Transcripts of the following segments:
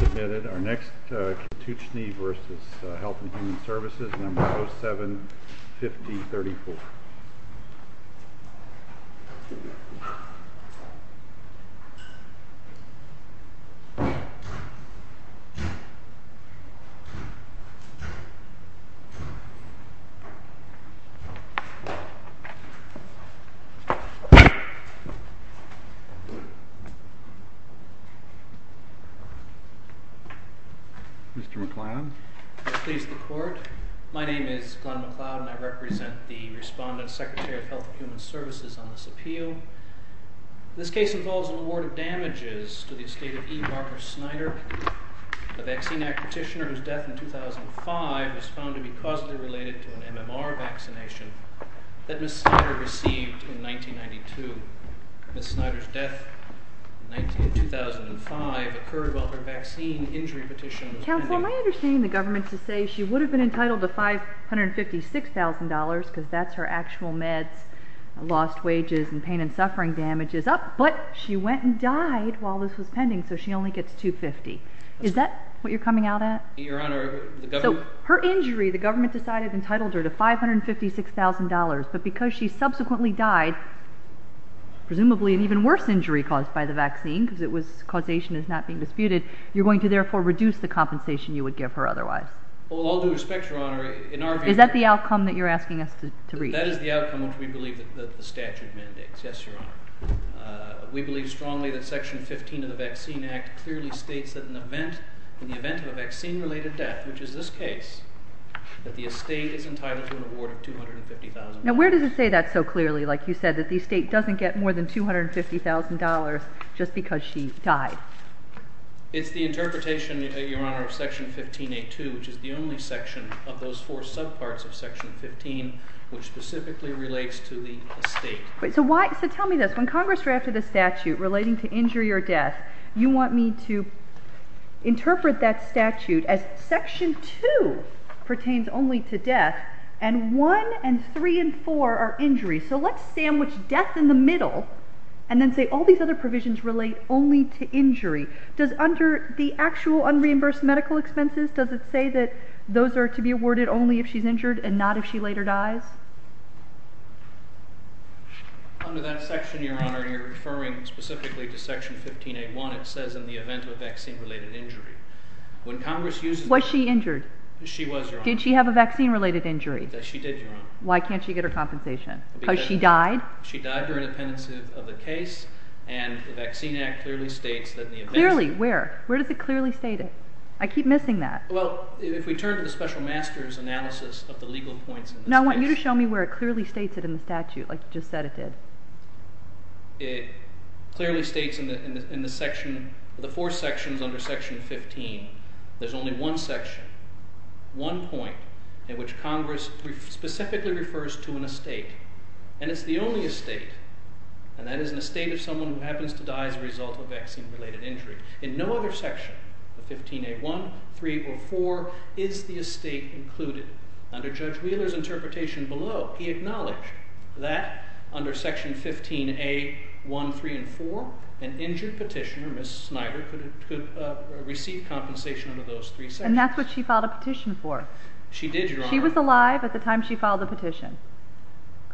Submitted our next Katuchni v. Health and Human Services, No. 07-5034. Mr. McLeod. Please, the Court. My name is Glenn McLeod, and I represent the Respondent, Secretary of Health and Human Services, on this appeal. This case involves an award of damages to the estate of E. Barbara Snyder, a Vaccine Act petitioner whose death in 2005 was found to be causally related to an MMR vaccination that Ms. Snyder received in 1992. Ms. Snyder's death in 2005 occurred while her vaccine injury petition was pending. Counsel, am I understanding the government to say she would have been entitled to $556,000 because that's her actual meds, lost wages, and pain and suffering damages, but she went and died while this was pending, so she only gets $250,000. Is that what you're coming out at? Your Honor, the government... So, her injury, the government decided entitled her to $556,000, but because she subsequently died, presumably an even worse injury caused by the vaccine because it was, causation is not being disputed, you're going to therefore reduce the compensation you would give her otherwise. Well, with all due respect, Your Honor, in our view... Is that the outcome that you're asking us to reach? That is the outcome which we believe that the statute mandates. Yes, Your Honor. We believe strongly that Section 15 of the Vaccine Act clearly states that in the event of a vaccine-related death, which is this case, that the estate is entitled to an award of $250,000. Now, where does it say that so clearly, like you said, that the estate doesn't get more than $250,000 just because she died? It's the interpretation, Your Honor, of Section 15A2, which is the only section of those four subparts of Section 15 which specifically relates to the estate. So, tell me this. When Congress drafted the statute relating to injury or death, you want me to interpret that statute as Section 2 pertains only to death and 1 and 3 and 4 are injuries. So, let's sandwich death in the middle and then say all these other provisions relate only to injury. Does under the actual unreimbursed medical expenses, does it say that those are to be awarded only if she's injured and not if she later dies? Under that section, Your Honor, you're referring specifically to Section 15A1. It says in the event of a vaccine-related injury. Was she injured? She was, Your Honor. Did she have a vaccine-related injury? Yes, she did, Your Honor. Why can't she get her compensation? Because she died? She died during the pendency of the case and the Vaccine Act clearly states that in the event- Clearly, where? Where does it clearly state it? I keep missing that. Well, if we turn to the special master's analysis of the legal points- No, I want you to show me where it clearly states it in the statute, like you just said it did. It clearly states in the four sections under Section 15, there's only one section, one point, in which Congress specifically refers to an estate. And it's the only estate, and that is an estate of someone who happens to die as a result of a vaccine-related injury. In no other section of 15A1, 3, or 4 is the estate included. Under Judge Wheeler's interpretation below, he acknowledged that under Section 15A1, 3, and 4, an injured petitioner, Ms. Snyder, could receive compensation under those three sections. And that's what she filed a petition for? She did, Your Honor. She was alive at the time she filed the petition,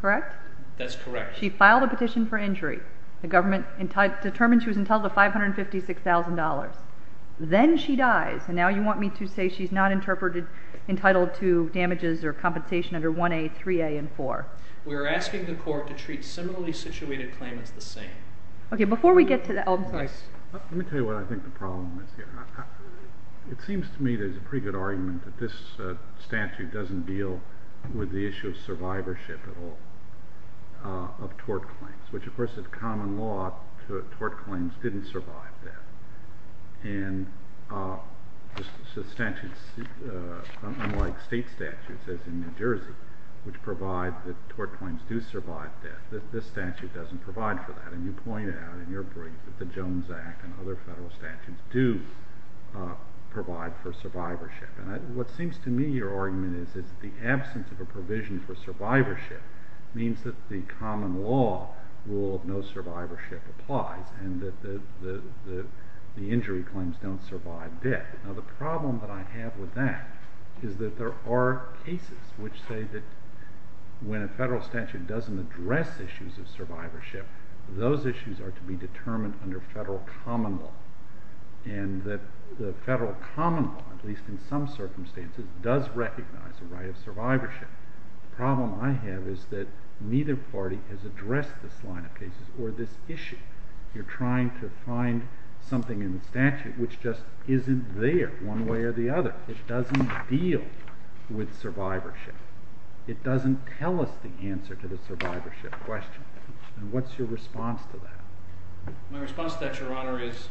correct? That's correct. She filed a petition for injury. The government determined she was entitled to $556,000. Then she dies. And now you want me to say she's not entitled to damages or compensation under 1A, 3A, and 4. We're asking the Court to treat similarly situated claimants the same. Okay, before we get to that, I'm sorry. Let me tell you what I think the problem is here. It seems to me there's a pretty good argument that this statute doesn't deal with the issue of survivorship at all, of tort claims. Which, of course, is common law. Tort claims didn't survive death. And unlike state statutes, as in New Jersey, which provide that tort claims do survive death, this statute doesn't provide for that. And you point out in your brief that the Jones Act and other federal statutes do provide for survivorship. And what seems to me your argument is that the absence of a provision for survivorship means that the common law rule of no survivorship applies and that the injury claims don't survive death. Now, the problem that I have with that is that there are cases which say that when a federal statute doesn't address issues of survivorship, those issues are to be determined under federal common law. And that the federal common law, at least in some circumstances, does recognize the right of survivorship. The problem I have is that neither party has addressed this line of cases or this issue. You're trying to find something in the statute which just isn't there one way or the other. It doesn't deal with survivorship. It doesn't tell us the answer to the survivorship question. And what's your response to that? My response to that, Your Honor, is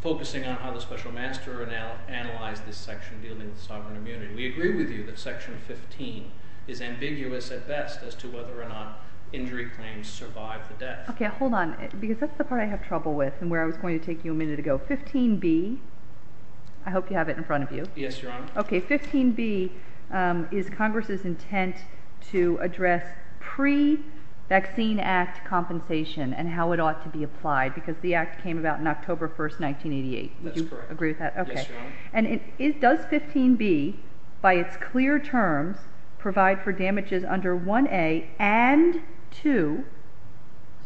focusing on how the special master analyzed this section dealing with sovereign immunity. We agree with you that section 15 is ambiguous at best as to whether or not injury claims survive the death. Okay, hold on, because that's the part I have trouble with and where I was going to take you a minute ago. 15B, I hope you have it in front of you. Yes, Your Honor. Okay, 15B is Congress's intent to address pre-vaccine act compensation and how it ought to be applied because the act came about on October 1st, 1988. Would you agree with that? Yes, Your Honor. And does 15B, by its clear terms, provide for damages under 1A and 2?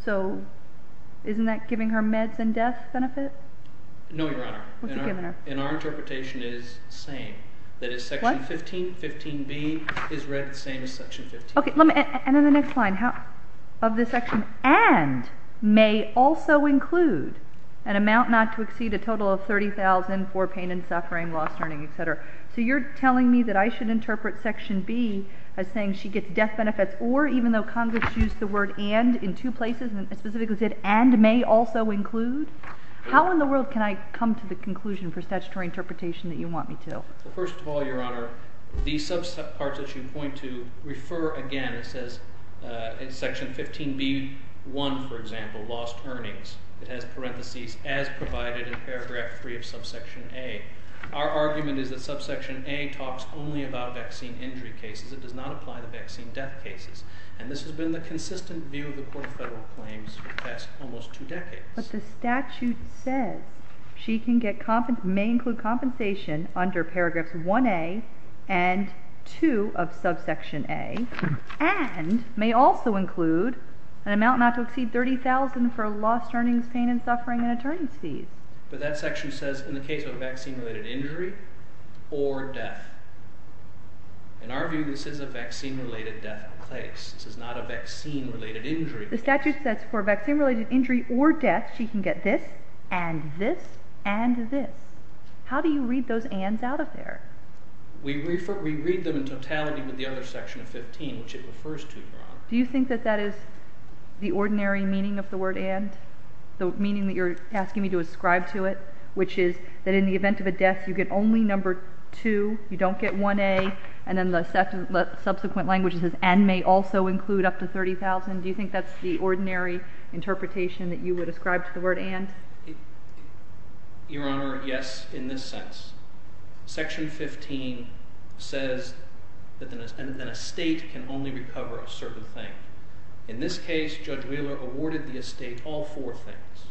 So isn't that giving her meds and death benefit? No, Your Honor. What's it giving her? And our interpretation is the same. What? That is section 15, 15B, is read the same as section 15. Okay, and in the next line, of this section, and may also include an amount not to exceed a total of $30,000 for pain and suffering, loss, learning, et cetera. So you're telling me that I should interpret section B as saying she gets death benefits, or even though Congress used the word and in two places, it specifically said and may also include? How in the world can I come to the conclusion for statutory interpretation that you want me to? Well, first of all, Your Honor, the subset part that you point to, refer again, it says in section 15B1, for example, lost earnings. It has parentheses as provided in paragraph 3 of subsection A. Our argument is that subsection A talks only about vaccine injury cases. It does not apply to vaccine death cases. And this has been the consistent view of the Court of Federal Claims for the past almost two decades. But the statute says she may include compensation under paragraphs 1A and 2 of subsection A, and may also include an amount not to exceed $30,000 for lost earnings, pain and suffering, and attorney's fees. But that section says in the case of a vaccine-related injury or death. In our view, this is a vaccine-related death in place. This is not a vaccine-related injury. The statute says for a vaccine-related injury or death, she can get this and this and this. How do you read those ands out of there? We read them in totality with the other section of 15, which it refers to, Your Honor. Do you think that that is the ordinary meaning of the word and, the meaning that you're asking me to ascribe to it, which is that in the event of a death, you get only number 2, you don't get 1A, and then the subsequent language says and may also include up to $30,000? Do you think that's the ordinary interpretation that you would ascribe to the word and? Your Honor, yes, in this sense. Section 15 says that an estate can only recover a certain thing. In this case, Judge Wheeler awarded the estate all four things.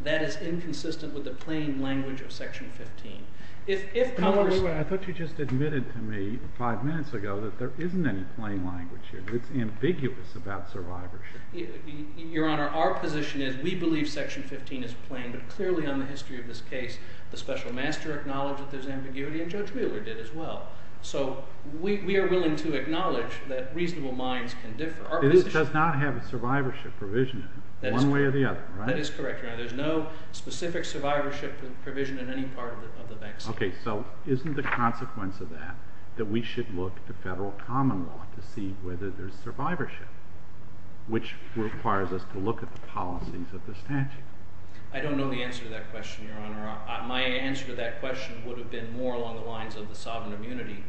That is inconsistent with the plain language of Section 15. I thought you just admitted to me five minutes ago that there isn't any plain language here. It's ambiguous about survivorship. Your Honor, our position is we believe Section 15 is plain, but clearly on the history of this case, the special master acknowledged that there's ambiguity, and Judge Wheeler did as well. So we are willing to acknowledge that reasonable minds can differ. It does not have a survivorship provision in it, one way or the other, right? That is correct, Your Honor. There's no specific survivorship provision in any part of the vexed case. Okay, so isn't the consequence of that that we should look to federal common law to see whether there's survivorship, which requires us to look at the policies of the statute? I don't know the answer to that question, Your Honor. My answer to that question would have been more along the lines of the sovereign immunity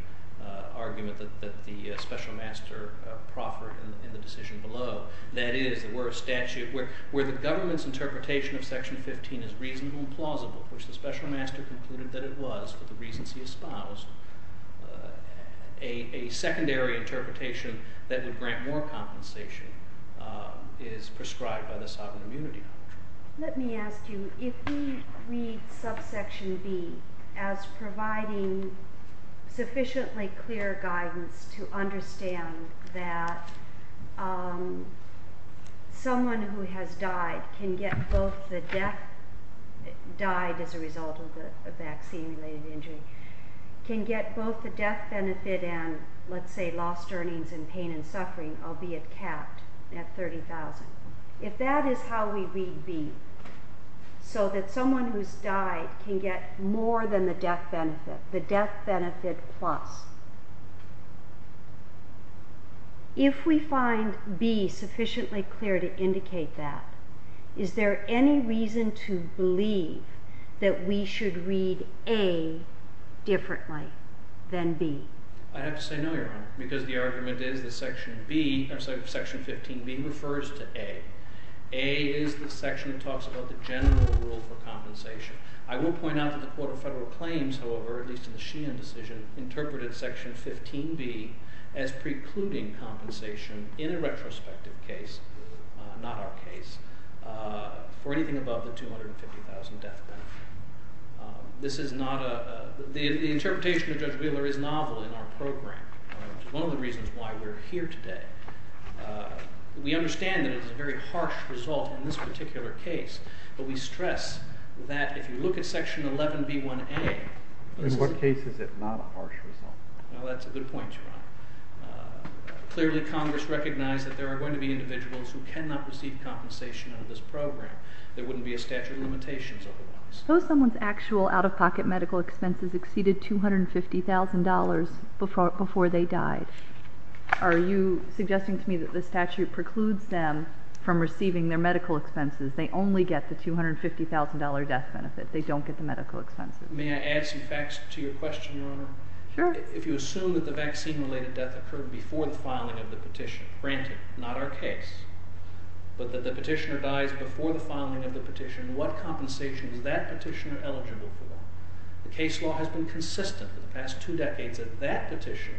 argument that the special master proffered in the decision below. That is, were a statute where the government's interpretation of Section 15 is reasonable and plausible, which the special master concluded that it was for the reasons he espoused, a secondary interpretation that would grant more compensation is prescribed by the sovereign immunity. Let me ask you, if we read subsection B as providing sufficiently clear guidance to understand that someone who has died can get both the death benefit and, let's say, lost earnings in pain and suffering, albeit capped at $30,000, if that is how we read B, so that someone who's died can get more than the death benefit, the death benefit plus, if we find B sufficiently clear to indicate that, is there any reason to believe that we should read A differently than B? I have to say no, Your Honor, because the argument is that Section 15B refers to A. A is the section that talks about the general rule for compensation. I will point out that the Court of Federal Claims, however, at least in the Sheehan decision, interpreted Section 15B as precluding compensation in a retrospective case, not our case, for anything above the $250,000 death benefit. The interpretation of Judge Wheeler is novel in our program, which is one of the reasons why we're here today. We understand that it is a very harsh result in this particular case, but we stress that if you look at Section 11B1A... In what case is it not a harsh result? Well, that's a good point, Your Honor. Clearly, Congress recognized that there are going to be individuals who cannot receive compensation under this program. There wouldn't be a statute of limitations otherwise. Suppose someone's actual out-of-pocket medical expenses exceeded $250,000 before they died. Are you suggesting to me that the statute precludes them from receiving their medical expenses? They only get the $250,000 death benefit. They don't get the medical expenses. May I add some facts to your question, Your Honor? Sure. If you assume that the vaccine-related death occurred before the filing of the petition, granted, not our case, but that the petitioner dies before the filing of the petition, what compensation is that petitioner eligible for? The case law has been consistent for the past two decades that that petition...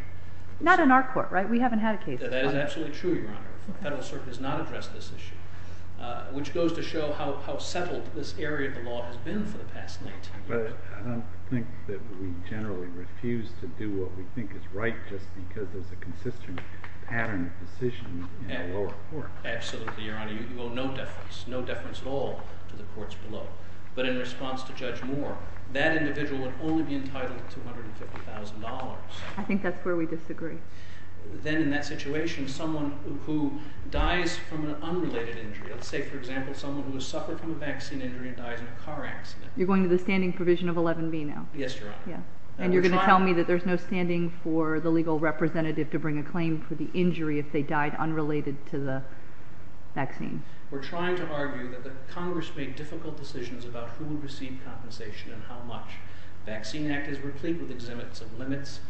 Not in our court, right? We haven't had a case. That is absolutely true, Your Honor. The Federal Circuit has not addressed this issue, which goes to show how settled this area of the law has been for the past 19 years. But I don't think that we generally refuse to do what we think is right just because there's a consistent pattern of decision in the lower court. Absolutely, Your Honor. You owe no deference, no deference at all to the courts below. But in response to Judge Moore, that individual would only be entitled to $250,000. I think that's where we disagree. Then in that situation, someone who dies from an unrelated injury, let's say, for example, someone who has suffered from a vaccine injury and dies in a car accident... You're going to the standing provision of 11B now? Yes, Your Honor. And you're going to tell me that there's no standing for the legal representative to bring a claim for the injury if they died unrelated to the vaccine? We're trying to argue that the Congress made difficult decisions about who would receive compensation and how much. The Vaccine Act is replete with exhibits of limits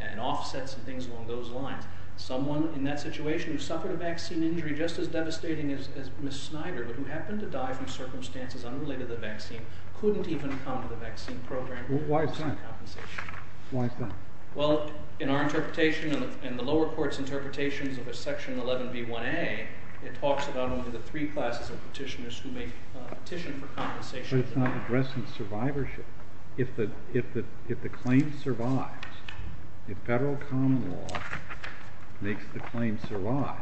and offsets and things along those lines. Someone in that situation who suffered a vaccine injury just as devastating as Ms. Snyder but who happened to die from circumstances unrelated to the vaccine couldn't even come to the vaccine program to receive compensation. Why is that? Well, in our interpretation and the lower court's interpretations of a section 11B1A, it talks about only the three classes of petitioners who may petition for compensation. But it's not addressed in survivorship. If the claim survives, if federal common law makes the claim survive,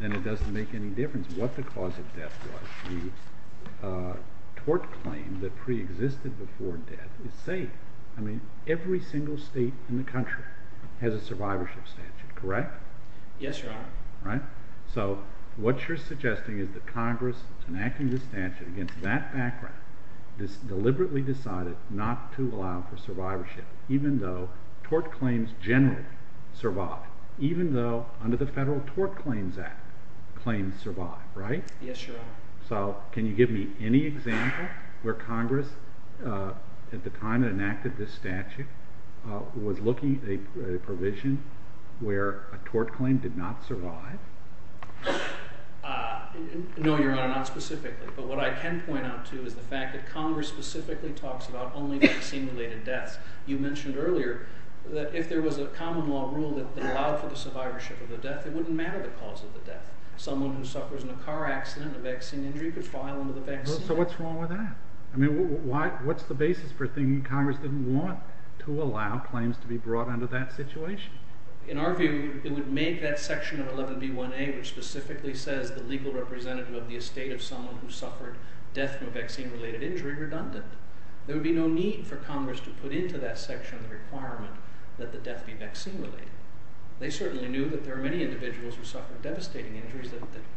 then it doesn't make any difference what the cause of death was. The tort claim that preexisted before death is safe. I mean, every single state in the country has a survivorship statute, correct? Yes, Your Honor. So what you're suggesting is that Congress, enacting this statute against that background, deliberately decided not to allow for survivorship even though tort claims generally survive, even though under the Federal Tort Claims Act claims survive, right? Yes, Your Honor. So can you give me any example where Congress, at the time it enacted this statute, was looking at a provision where a tort claim did not survive? No, Your Honor, not specifically. But what I can point out to you is the fact that Congress specifically talks about only vaccine-related deaths. You mentioned earlier that if there was a common law rule that allowed for the survivorship of the death, it wouldn't matter the cause of the death. Someone who suffers in a car accident, a vaccine injury, could file under the vaccine. So what's wrong with that? I mean, what's the basis for thinking Congress didn't want to allow claims to be brought under that situation? In our view, it would make that section of 11B1A, which specifically says the legal representative of the estate of someone who suffered death from a vaccine-related injury, redundant. There would be no need for Congress to put into that section the requirement that the death be vaccine-related. They certainly knew that there were many individuals who suffered devastating injuries.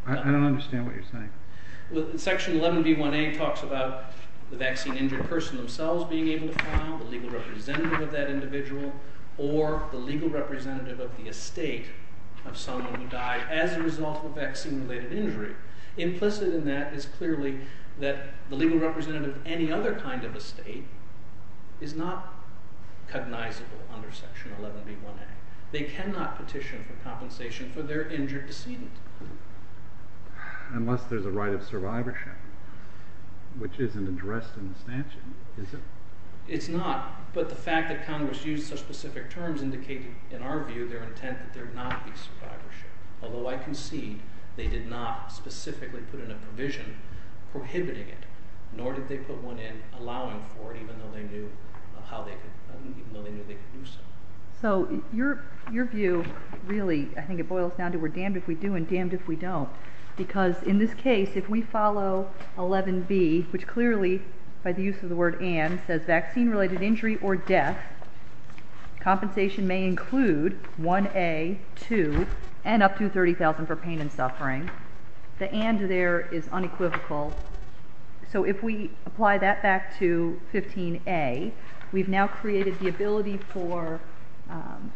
I don't understand what you're saying. Section 11B1A talks about the vaccine-injured person themselves being able to file, the legal representative of that individual, or the legal representative of the estate of someone who died as a result of a vaccine-related injury. Implicit in that is clearly that the legal representative of any other kind of estate is not cognizable under Section 11B1A. They cannot petition for compensation for their injured decedent. Unless there's a right of survivorship, which isn't addressed in the statute, is it? It's not, but the fact that Congress used such specific terms indicates, in our view, their intent that there not be survivorship. Although I concede they did not specifically put in a provision prohibiting it, nor did they put one in allowing for it, even though they knew they could do so. So your view, really, I think it boils down to we're damned if we do and damned if we don't. Because in this case, if we follow 11B, which clearly, by the use of the word and, says vaccine-related injury or death, compensation may include 1A, 2, and up to $30,000 for pain and suffering. The and there is unequivocal. So if we apply that back to 15A, we've now created the ability for,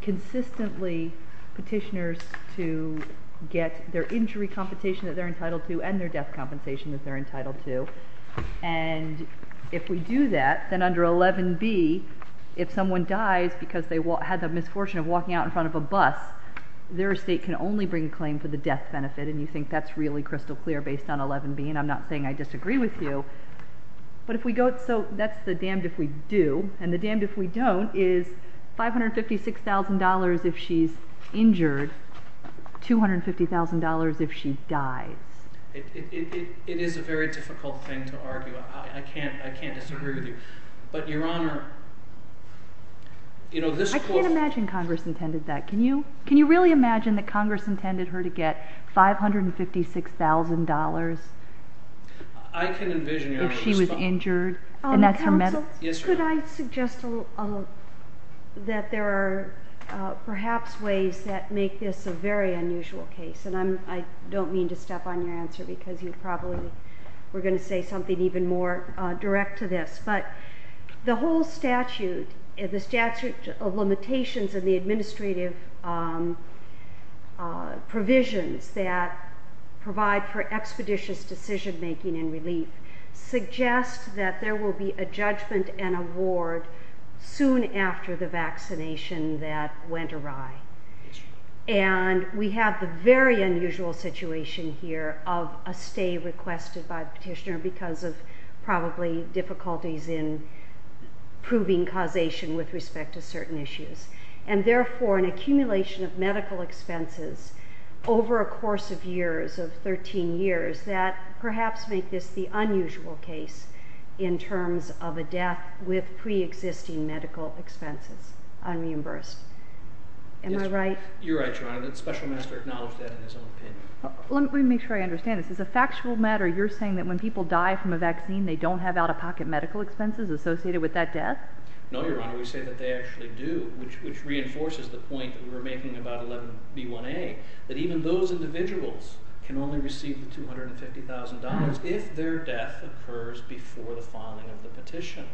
consistently, petitioners to get their injury compensation that they're entitled to and their death compensation that they're entitled to. And if we do that, then under 11B, if someone dies because they had the misfortune of walking out in front of a bus, their estate can only bring a claim for the death benefit. And you think that's really crystal clear based on 11B. And I'm not saying I disagree with you. But if we go, so that's the damned if we do. And the damned if we don't is $556,000 if she's injured, $250,000 if she dies. It is a very difficult thing to argue. I can't disagree with you. But, Your Honor, you know, this quote. I can't imagine Congress intended that. Can you really imagine that Congress intended her to get $556,000 if she was injured? And that's her medal. Counsel, could I suggest that there are perhaps ways that make this a very unusual case? And I don't mean to step on your answer because you probably were going to say something even more direct to this. But the whole statute, the statute of limitations of the administrative provisions that provide for expeditious decision-making and relief suggests that there will be a judgment and award soon after the vaccination that went awry. And we have the very unusual situation here of a stay requested by the petitioner because of probably difficulties in proving causation with respect to certain issues. And, therefore, an accumulation of medical expenses over a course of years, of 13 years, that perhaps make this the unusual case in terms of a death with preexisting medical expenses unreimbursed. Am I right? You're right, Your Honor. The special minister acknowledged that in his own opinion. Let me make sure I understand this. As a factual matter, you're saying that when people die from a vaccine, they don't have out-of-pocket medical expenses associated with that death? No, Your Honor. We say that they actually do, which reinforces the point that we were making about 11B1A, that even those individuals can only receive the $250,000 if their death occurs before the filing of the petition.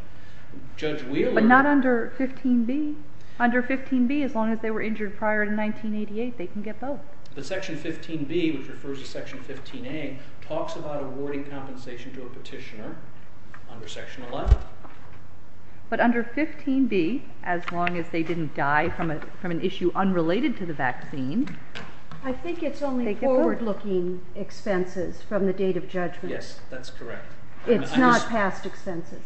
But not under 15B. Under 15B, as long as they were injured prior to 1988, they can get both. But Section 15B, which refers to Section 15A, talks about awarding compensation to a petitioner under Section 11. But under 15B, as long as they didn't die from an issue unrelated to the vaccine, I think it's only forward-looking expenses from the date of judgment. Yes, that's correct. It's not past expenses.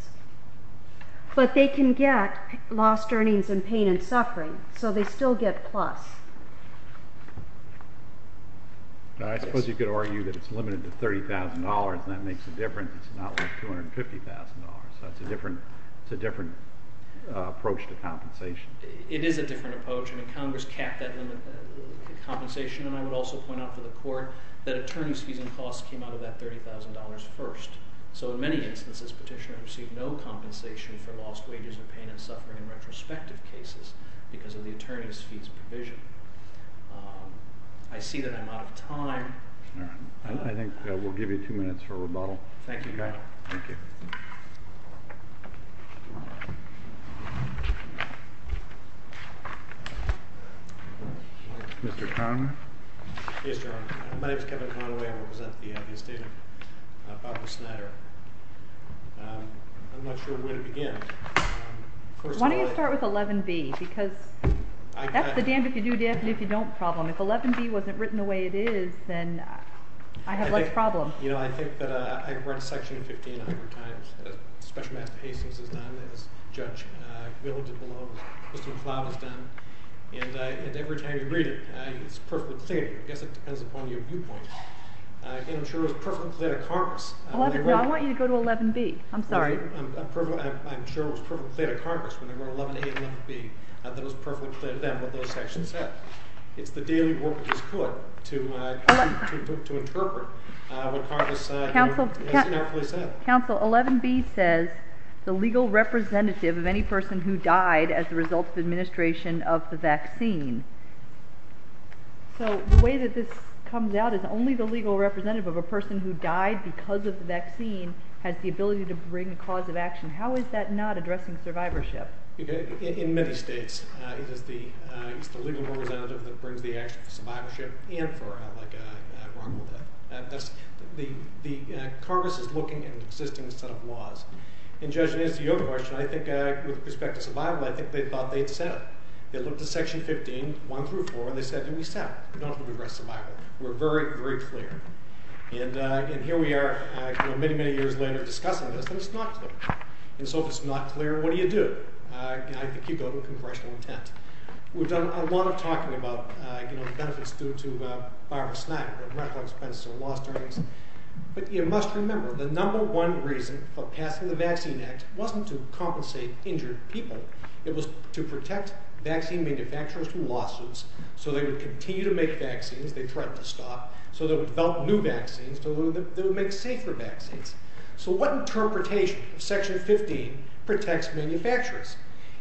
But they can get lost earnings and pain and suffering, so they still get plus. I suppose you could argue that it's limited to $30,000, and that makes a difference. It's not like $250,000. It's a different approach to compensation. It is a different approach. Congress capped that limit of compensation, and I would also point out to the court that attorney's fees and costs came out of that $30,000 first. So in many instances, petitioners received no compensation for lost wages and pain and suffering in retrospective cases because of the attorney's fees provision. I see that I'm out of time. I think we'll give you two minutes for rebuttal. Thank you, Your Honor. Thank you. Thank you. Mr. Conway. Yes, Your Honor. My name is Kevin Conway. I represent the state of Papasnatter. I'm not sure where to begin. Why don't you start with 11B? Because that's the damn if you do, damn if you don't problem. If 11B wasn't written the way it is, then I have less problems. You know, I think that I've read Section 1,500 times. Special Master Hastings has done it. Judge Mill did the law. Mr. McLeod has done it. And every time you read it, it's perfectly clear. I guess it depends upon your viewpoint. And I'm sure it was perfectly clear to Congress. No, I want you to go to 11B. I'm sorry. I'm sure it was perfectly clear to Congress when they wrote 11A and 11B that it was perfectly clear to them what those sections said. It's the daily work that was put to interpret what Congress has said. Counsel, 11B says the legal representative of any person who died as a result of administration of the vaccine. So the way that this comes out is only the legal representative of a person who died because of the vaccine has the ability to bring a cause of action. How is that not addressing survivorship? In many states, it is the legal representative that brings the action for survivorship and for a wrongful death. Congress is looking at an existing set of laws. And, Judge, in answer to your question, I think with respect to survival, I think they thought they had said it. They looked at Section 15, 1 through 4, and they said we said it. We don't have to address survival. We're very, very clear. And here we are many, many years later discussing this, and it's not clear. And so if it's not clear, what do you do? I think you go to congressional intent. We've done a lot of talking about, you know, the benefits due to virus, lack of medical expenses or lost earnings. But you must remember the number one reason for passing the Vaccine Act wasn't to compensate injured people. It was to protect vaccine manufacturers from lawsuits so they would continue to make vaccines. They threatened to stop. So they would develop new vaccines that would make safer vaccines. So what interpretation of Section 15 protects manufacturers?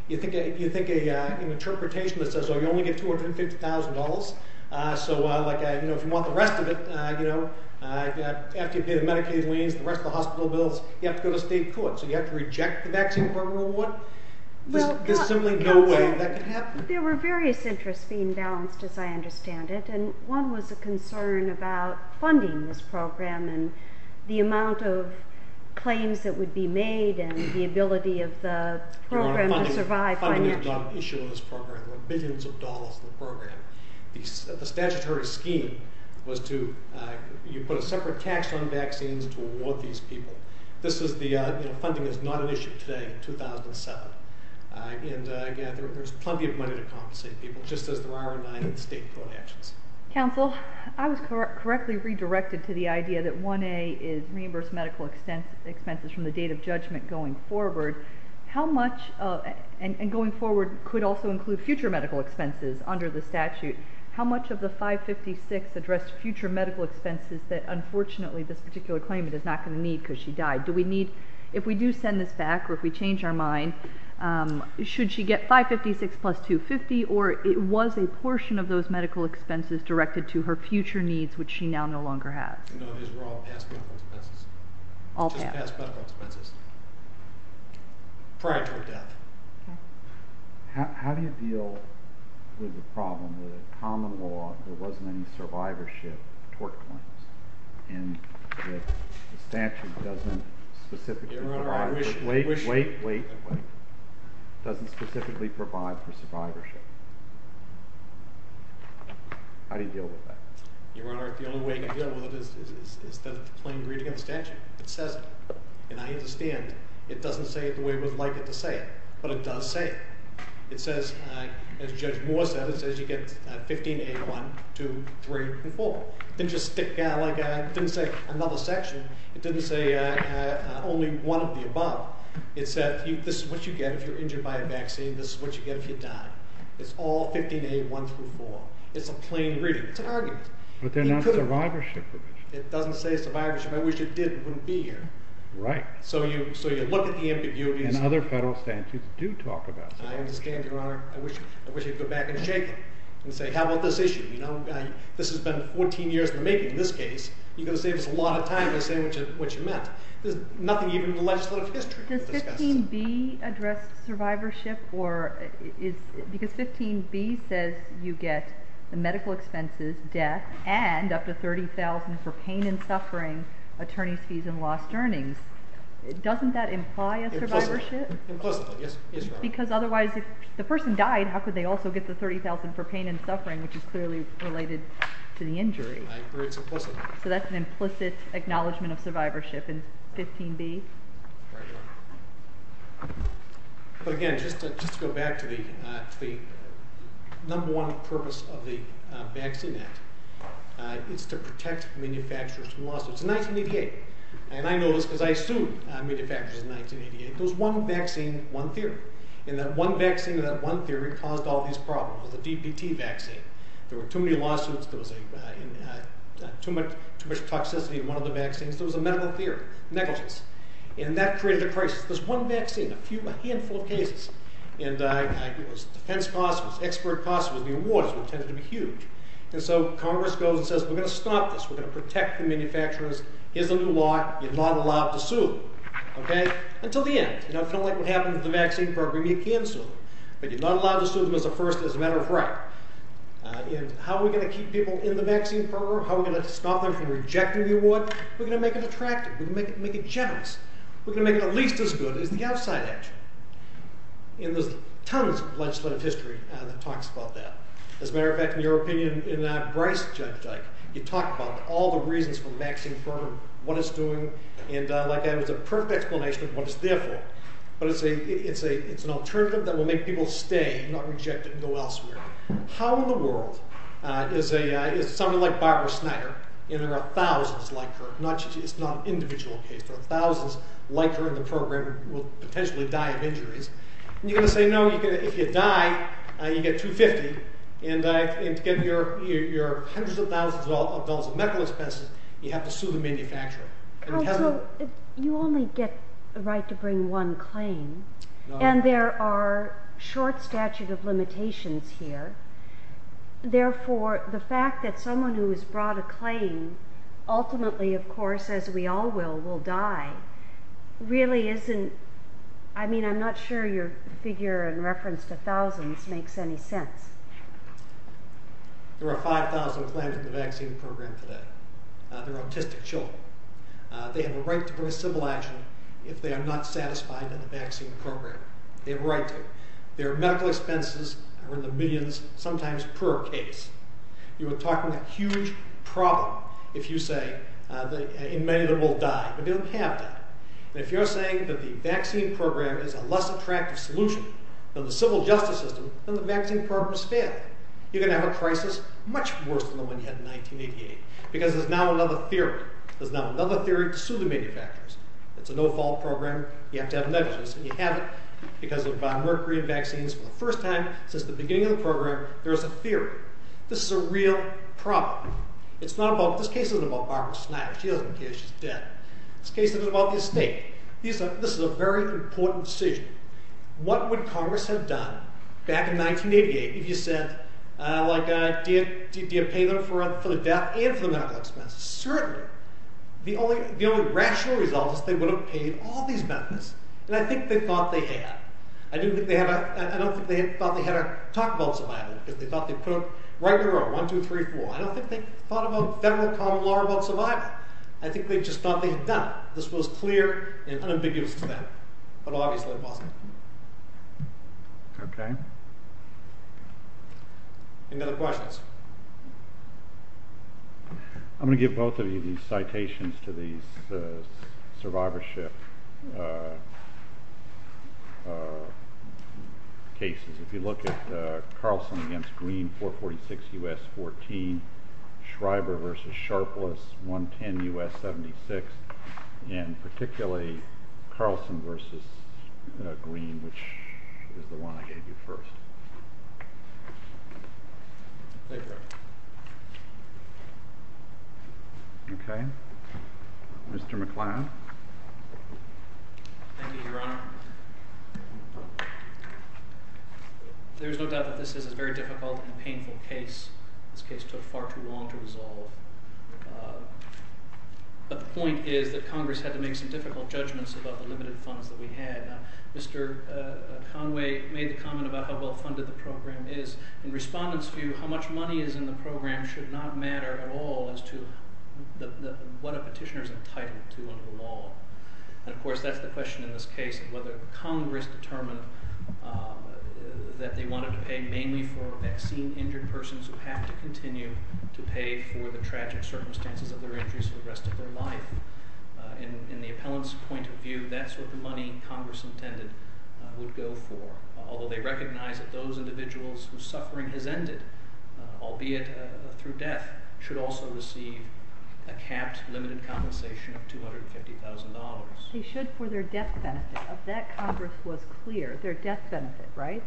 You think an interpretation that says, oh, you only get $250,000. So, like, you know, if you want the rest of it, you know, after you pay the Medicaid liens, the rest of the hospital bills, you have to go to state court. So you have to reject the vaccine program award? There's simply no way that could happen. There were various interests being balanced, as I understand it. And one was a concern about funding this program and the amount of claims that would be made and the ability of the program to survive financially. Funding has not been an issue in this program. There were billions of dollars in the program. The statutory scheme was to you put a separate tax on vaccines to award these people. This is the, you know, funding is not an issue today in 2007. And, again, there's plenty of money to compensate people, just as there are in the state court actions. Counsel, I was correctly redirected to the idea that 1A is reimbursed medical expenses from the date of judgment going forward. How much, and going forward could also include future medical expenses under the statute. How much of the 556 addressed future medical expenses that, unfortunately, this particular claimant is not going to need because she died? Do we need, if we do send this back or if we change our mind, should she get 556 plus 250, or it was a portion of those medical expenses directed to her future needs, which she now no longer has? No, these were all past medical expenses. All past? Just past medical expenses prior to her death. Okay. How do you deal with the problem that a common law, there wasn't any survivorship toward claims, and the statute doesn't specifically provide for- Your Honor, I wish- Wait, wait, wait, wait. Doesn't specifically provide for survivorship. How do you deal with that? Your Honor, the only way to deal with it is the plain reading of the statute. And I understand it doesn't say it the way we'd like it to say it, but it does say it. It says, as Judge Moore said, it says you get 15A1, 2, 3, and 4. It didn't just stick, like it didn't say another section. It didn't say only one of the above. It said this is what you get if you're injured by a vaccine. This is what you get if you die. It's all 15A1 through 4. It's a plain reading. It's an argument. But they're not survivorship. It doesn't say survivorship. I wish it did. It wouldn't be here. Right. So you look at the ambiguities- And other federal statutes do talk about survivorship. I understand, Your Honor. I wish you'd go back and shake it and say, how about this issue? You know, this has been 14 years in the making. In this case, you're going to save us a lot of time by saying what you meant. There's nothing even in the legislative history to discuss this. Does 15B address survivorship? Because 15B says you get the medical expenses, death, and up to $30,000 for pain and suffering, attorney's fees, and lost earnings. Doesn't that imply a survivorship? Implicitly, yes. Because otherwise, if the person died, how could they also get the $30,000 for pain and suffering, which is clearly related to the injury? I agree it's implicit. So that's an implicit acknowledgment of survivorship in 15B? Right on. But again, just to go back to the number one purpose of the Vaccine Act, it's to protect manufacturers from lawsuits. In 1988, and I know this because I sued manufacturers in 1988, there was one vaccine, one theory. And that one vaccine and that one theory caused all these problems. It was the DPT vaccine. There were too many lawsuits. There was too much toxicity in one of the vaccines. There was a medical theory, negligence. And that created a crisis. There's one vaccine, a handful of cases. And it was defense costs. It was expert costs. It was the awards, which tended to be huge. And so Congress goes and says, we're going to stop this. We're going to protect the manufacturers. Here's the new law. You're not allowed to sue them. Until the end. And I feel like what happened with the vaccine program, you can sue them. But you're not allowed to sue them as a matter of right. And how are we going to keep people in the vaccine program? How are we going to stop them from rejecting the award? We're going to make it attractive. We're going to make it generous. We're going to make it at least as good as the outside actor. And there's tons of legislative history that talks about that. As a matter of fact, in your opinion, in Bryce's judgment, you talk about all the reasons for the vaccine program, what it's doing. And like I said, it's a perfect explanation of what it's there for. But it's an alternative that will make people stay, not reject it and go elsewhere. How in the world is somebody like Barbara Snyder, and there are thousands like her. It's not an individual case. There are thousands like her in the program who will potentially die of injuries. And you're going to say, no, if you die, you get $250. And to get your hundreds of thousands of dollars of medical expenses, you have to sue the manufacturer. You only get the right to bring one claim. And there are short statute of limitations here. Therefore, the fact that someone who has brought a claim, ultimately, of course, as we all will, will die, really isn't. I mean, I'm not sure your figure in reference to thousands makes any sense. There are 5,000 claims in the vaccine program today. They're autistic children. They have a right to bring civil action if they are not satisfied in the vaccine program. They have a right to. Their medical expenses are in the millions, sometimes per case. You are talking a huge problem, if you say, in many that will die. We don't have that. And if you're saying that the vaccine program is a less attractive solution than the civil justice system, then the vaccine program is failing. You're going to have a crisis much worse than the one you had in 1988 because there's now another theory. There's now another theory to sue the manufacturers. It's a no-fault program. You have to have negligence, and you have it because of mercury and vaccines. For the first time since the beginning of the program, there's a theory. This is a real problem. This case isn't about Barbara Schneider. She doesn't care. She's dead. This case isn't about the estate. This is a very important decision. What would Congress have done back in 1988 if you said, like, do you pay them for the death and for the medical expenses? Certainly. The only rational result is they would have paid all these benefits, and I think they thought they had. I don't think they thought they had a talk about survival because they thought they put up a regular 1, 2, 3, 4. I don't think they thought about federal common law about survival. I think they just thought they had done it. This was clear and unambiguous to them, but obviously it wasn't. Any other questions? I'm going to give both of you these citations to these survivorship cases. If you look at Carlson v. Green, 446 U.S., 14, Schreiber v. Sharpless, 110 U.S., 76, and particularly Carlson v. Green, which is the one I gave you first. Okay. Mr. McCloud. Thank you, Your Honor. There is no doubt that this is a very difficult and painful case. This case took far too long to resolve. But the point is that Congress had to make some difficult judgments about the limited funds that we had. Now, Mr. Conway made the comment about how well funded the program is. In respondents' view, how much money is in the program should not matter at all as to what a petitioner is entitled to under the law. And, of course, that's the question in this case, whether Congress determined that they wanted to pay mainly for vaccine-injured persons who have to continue to pay for the tragic circumstances of their injuries for the rest of their life. In the appellant's point of view, that's what the money Congress intended would go for, although they recognize that those individuals whose suffering has ended, albeit through death, should also receive a capped limited compensation of $250,000. They should for their death benefit. If that Congress was clear, their death benefit, right?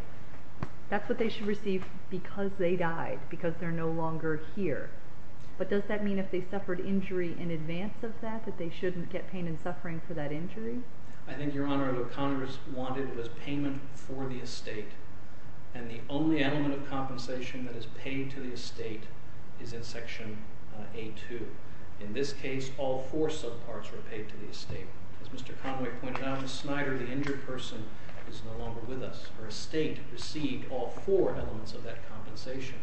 That's what they should receive because they died, because they're no longer here. But does that mean if they suffered injury in advance of that that they shouldn't get pain and suffering for that injury? I think, Your Honor, what Congress wanted was payment for the estate, and the only element of compensation that is paid to the estate is in Section A.2. In this case, all four subparts were paid to the estate. As Mr. Conway pointed out, Ms. Snyder, the injured person, is no longer with us. Her estate received all four elements of that compensation.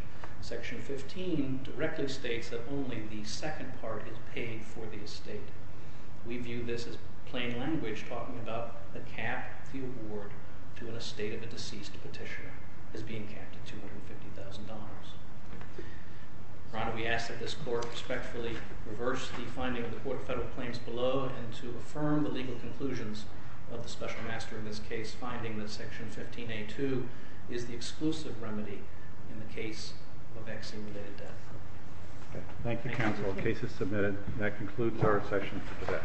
Section 15 directly states that only the second part is paid for the estate. We view this as plain language talking about the cap of the award to an estate of a deceased petitioner as being capped at $250,000. Your Honor, we ask that this Court respectfully reverse the finding of the Court of Federal Claims below and to affirm the legal conclusions of the special master in this case, finding that Section 15.A.2 is the exclusive remedy in the case of vaccine-related death. Thank you, Counsel. The case is submitted. That concludes our session for today.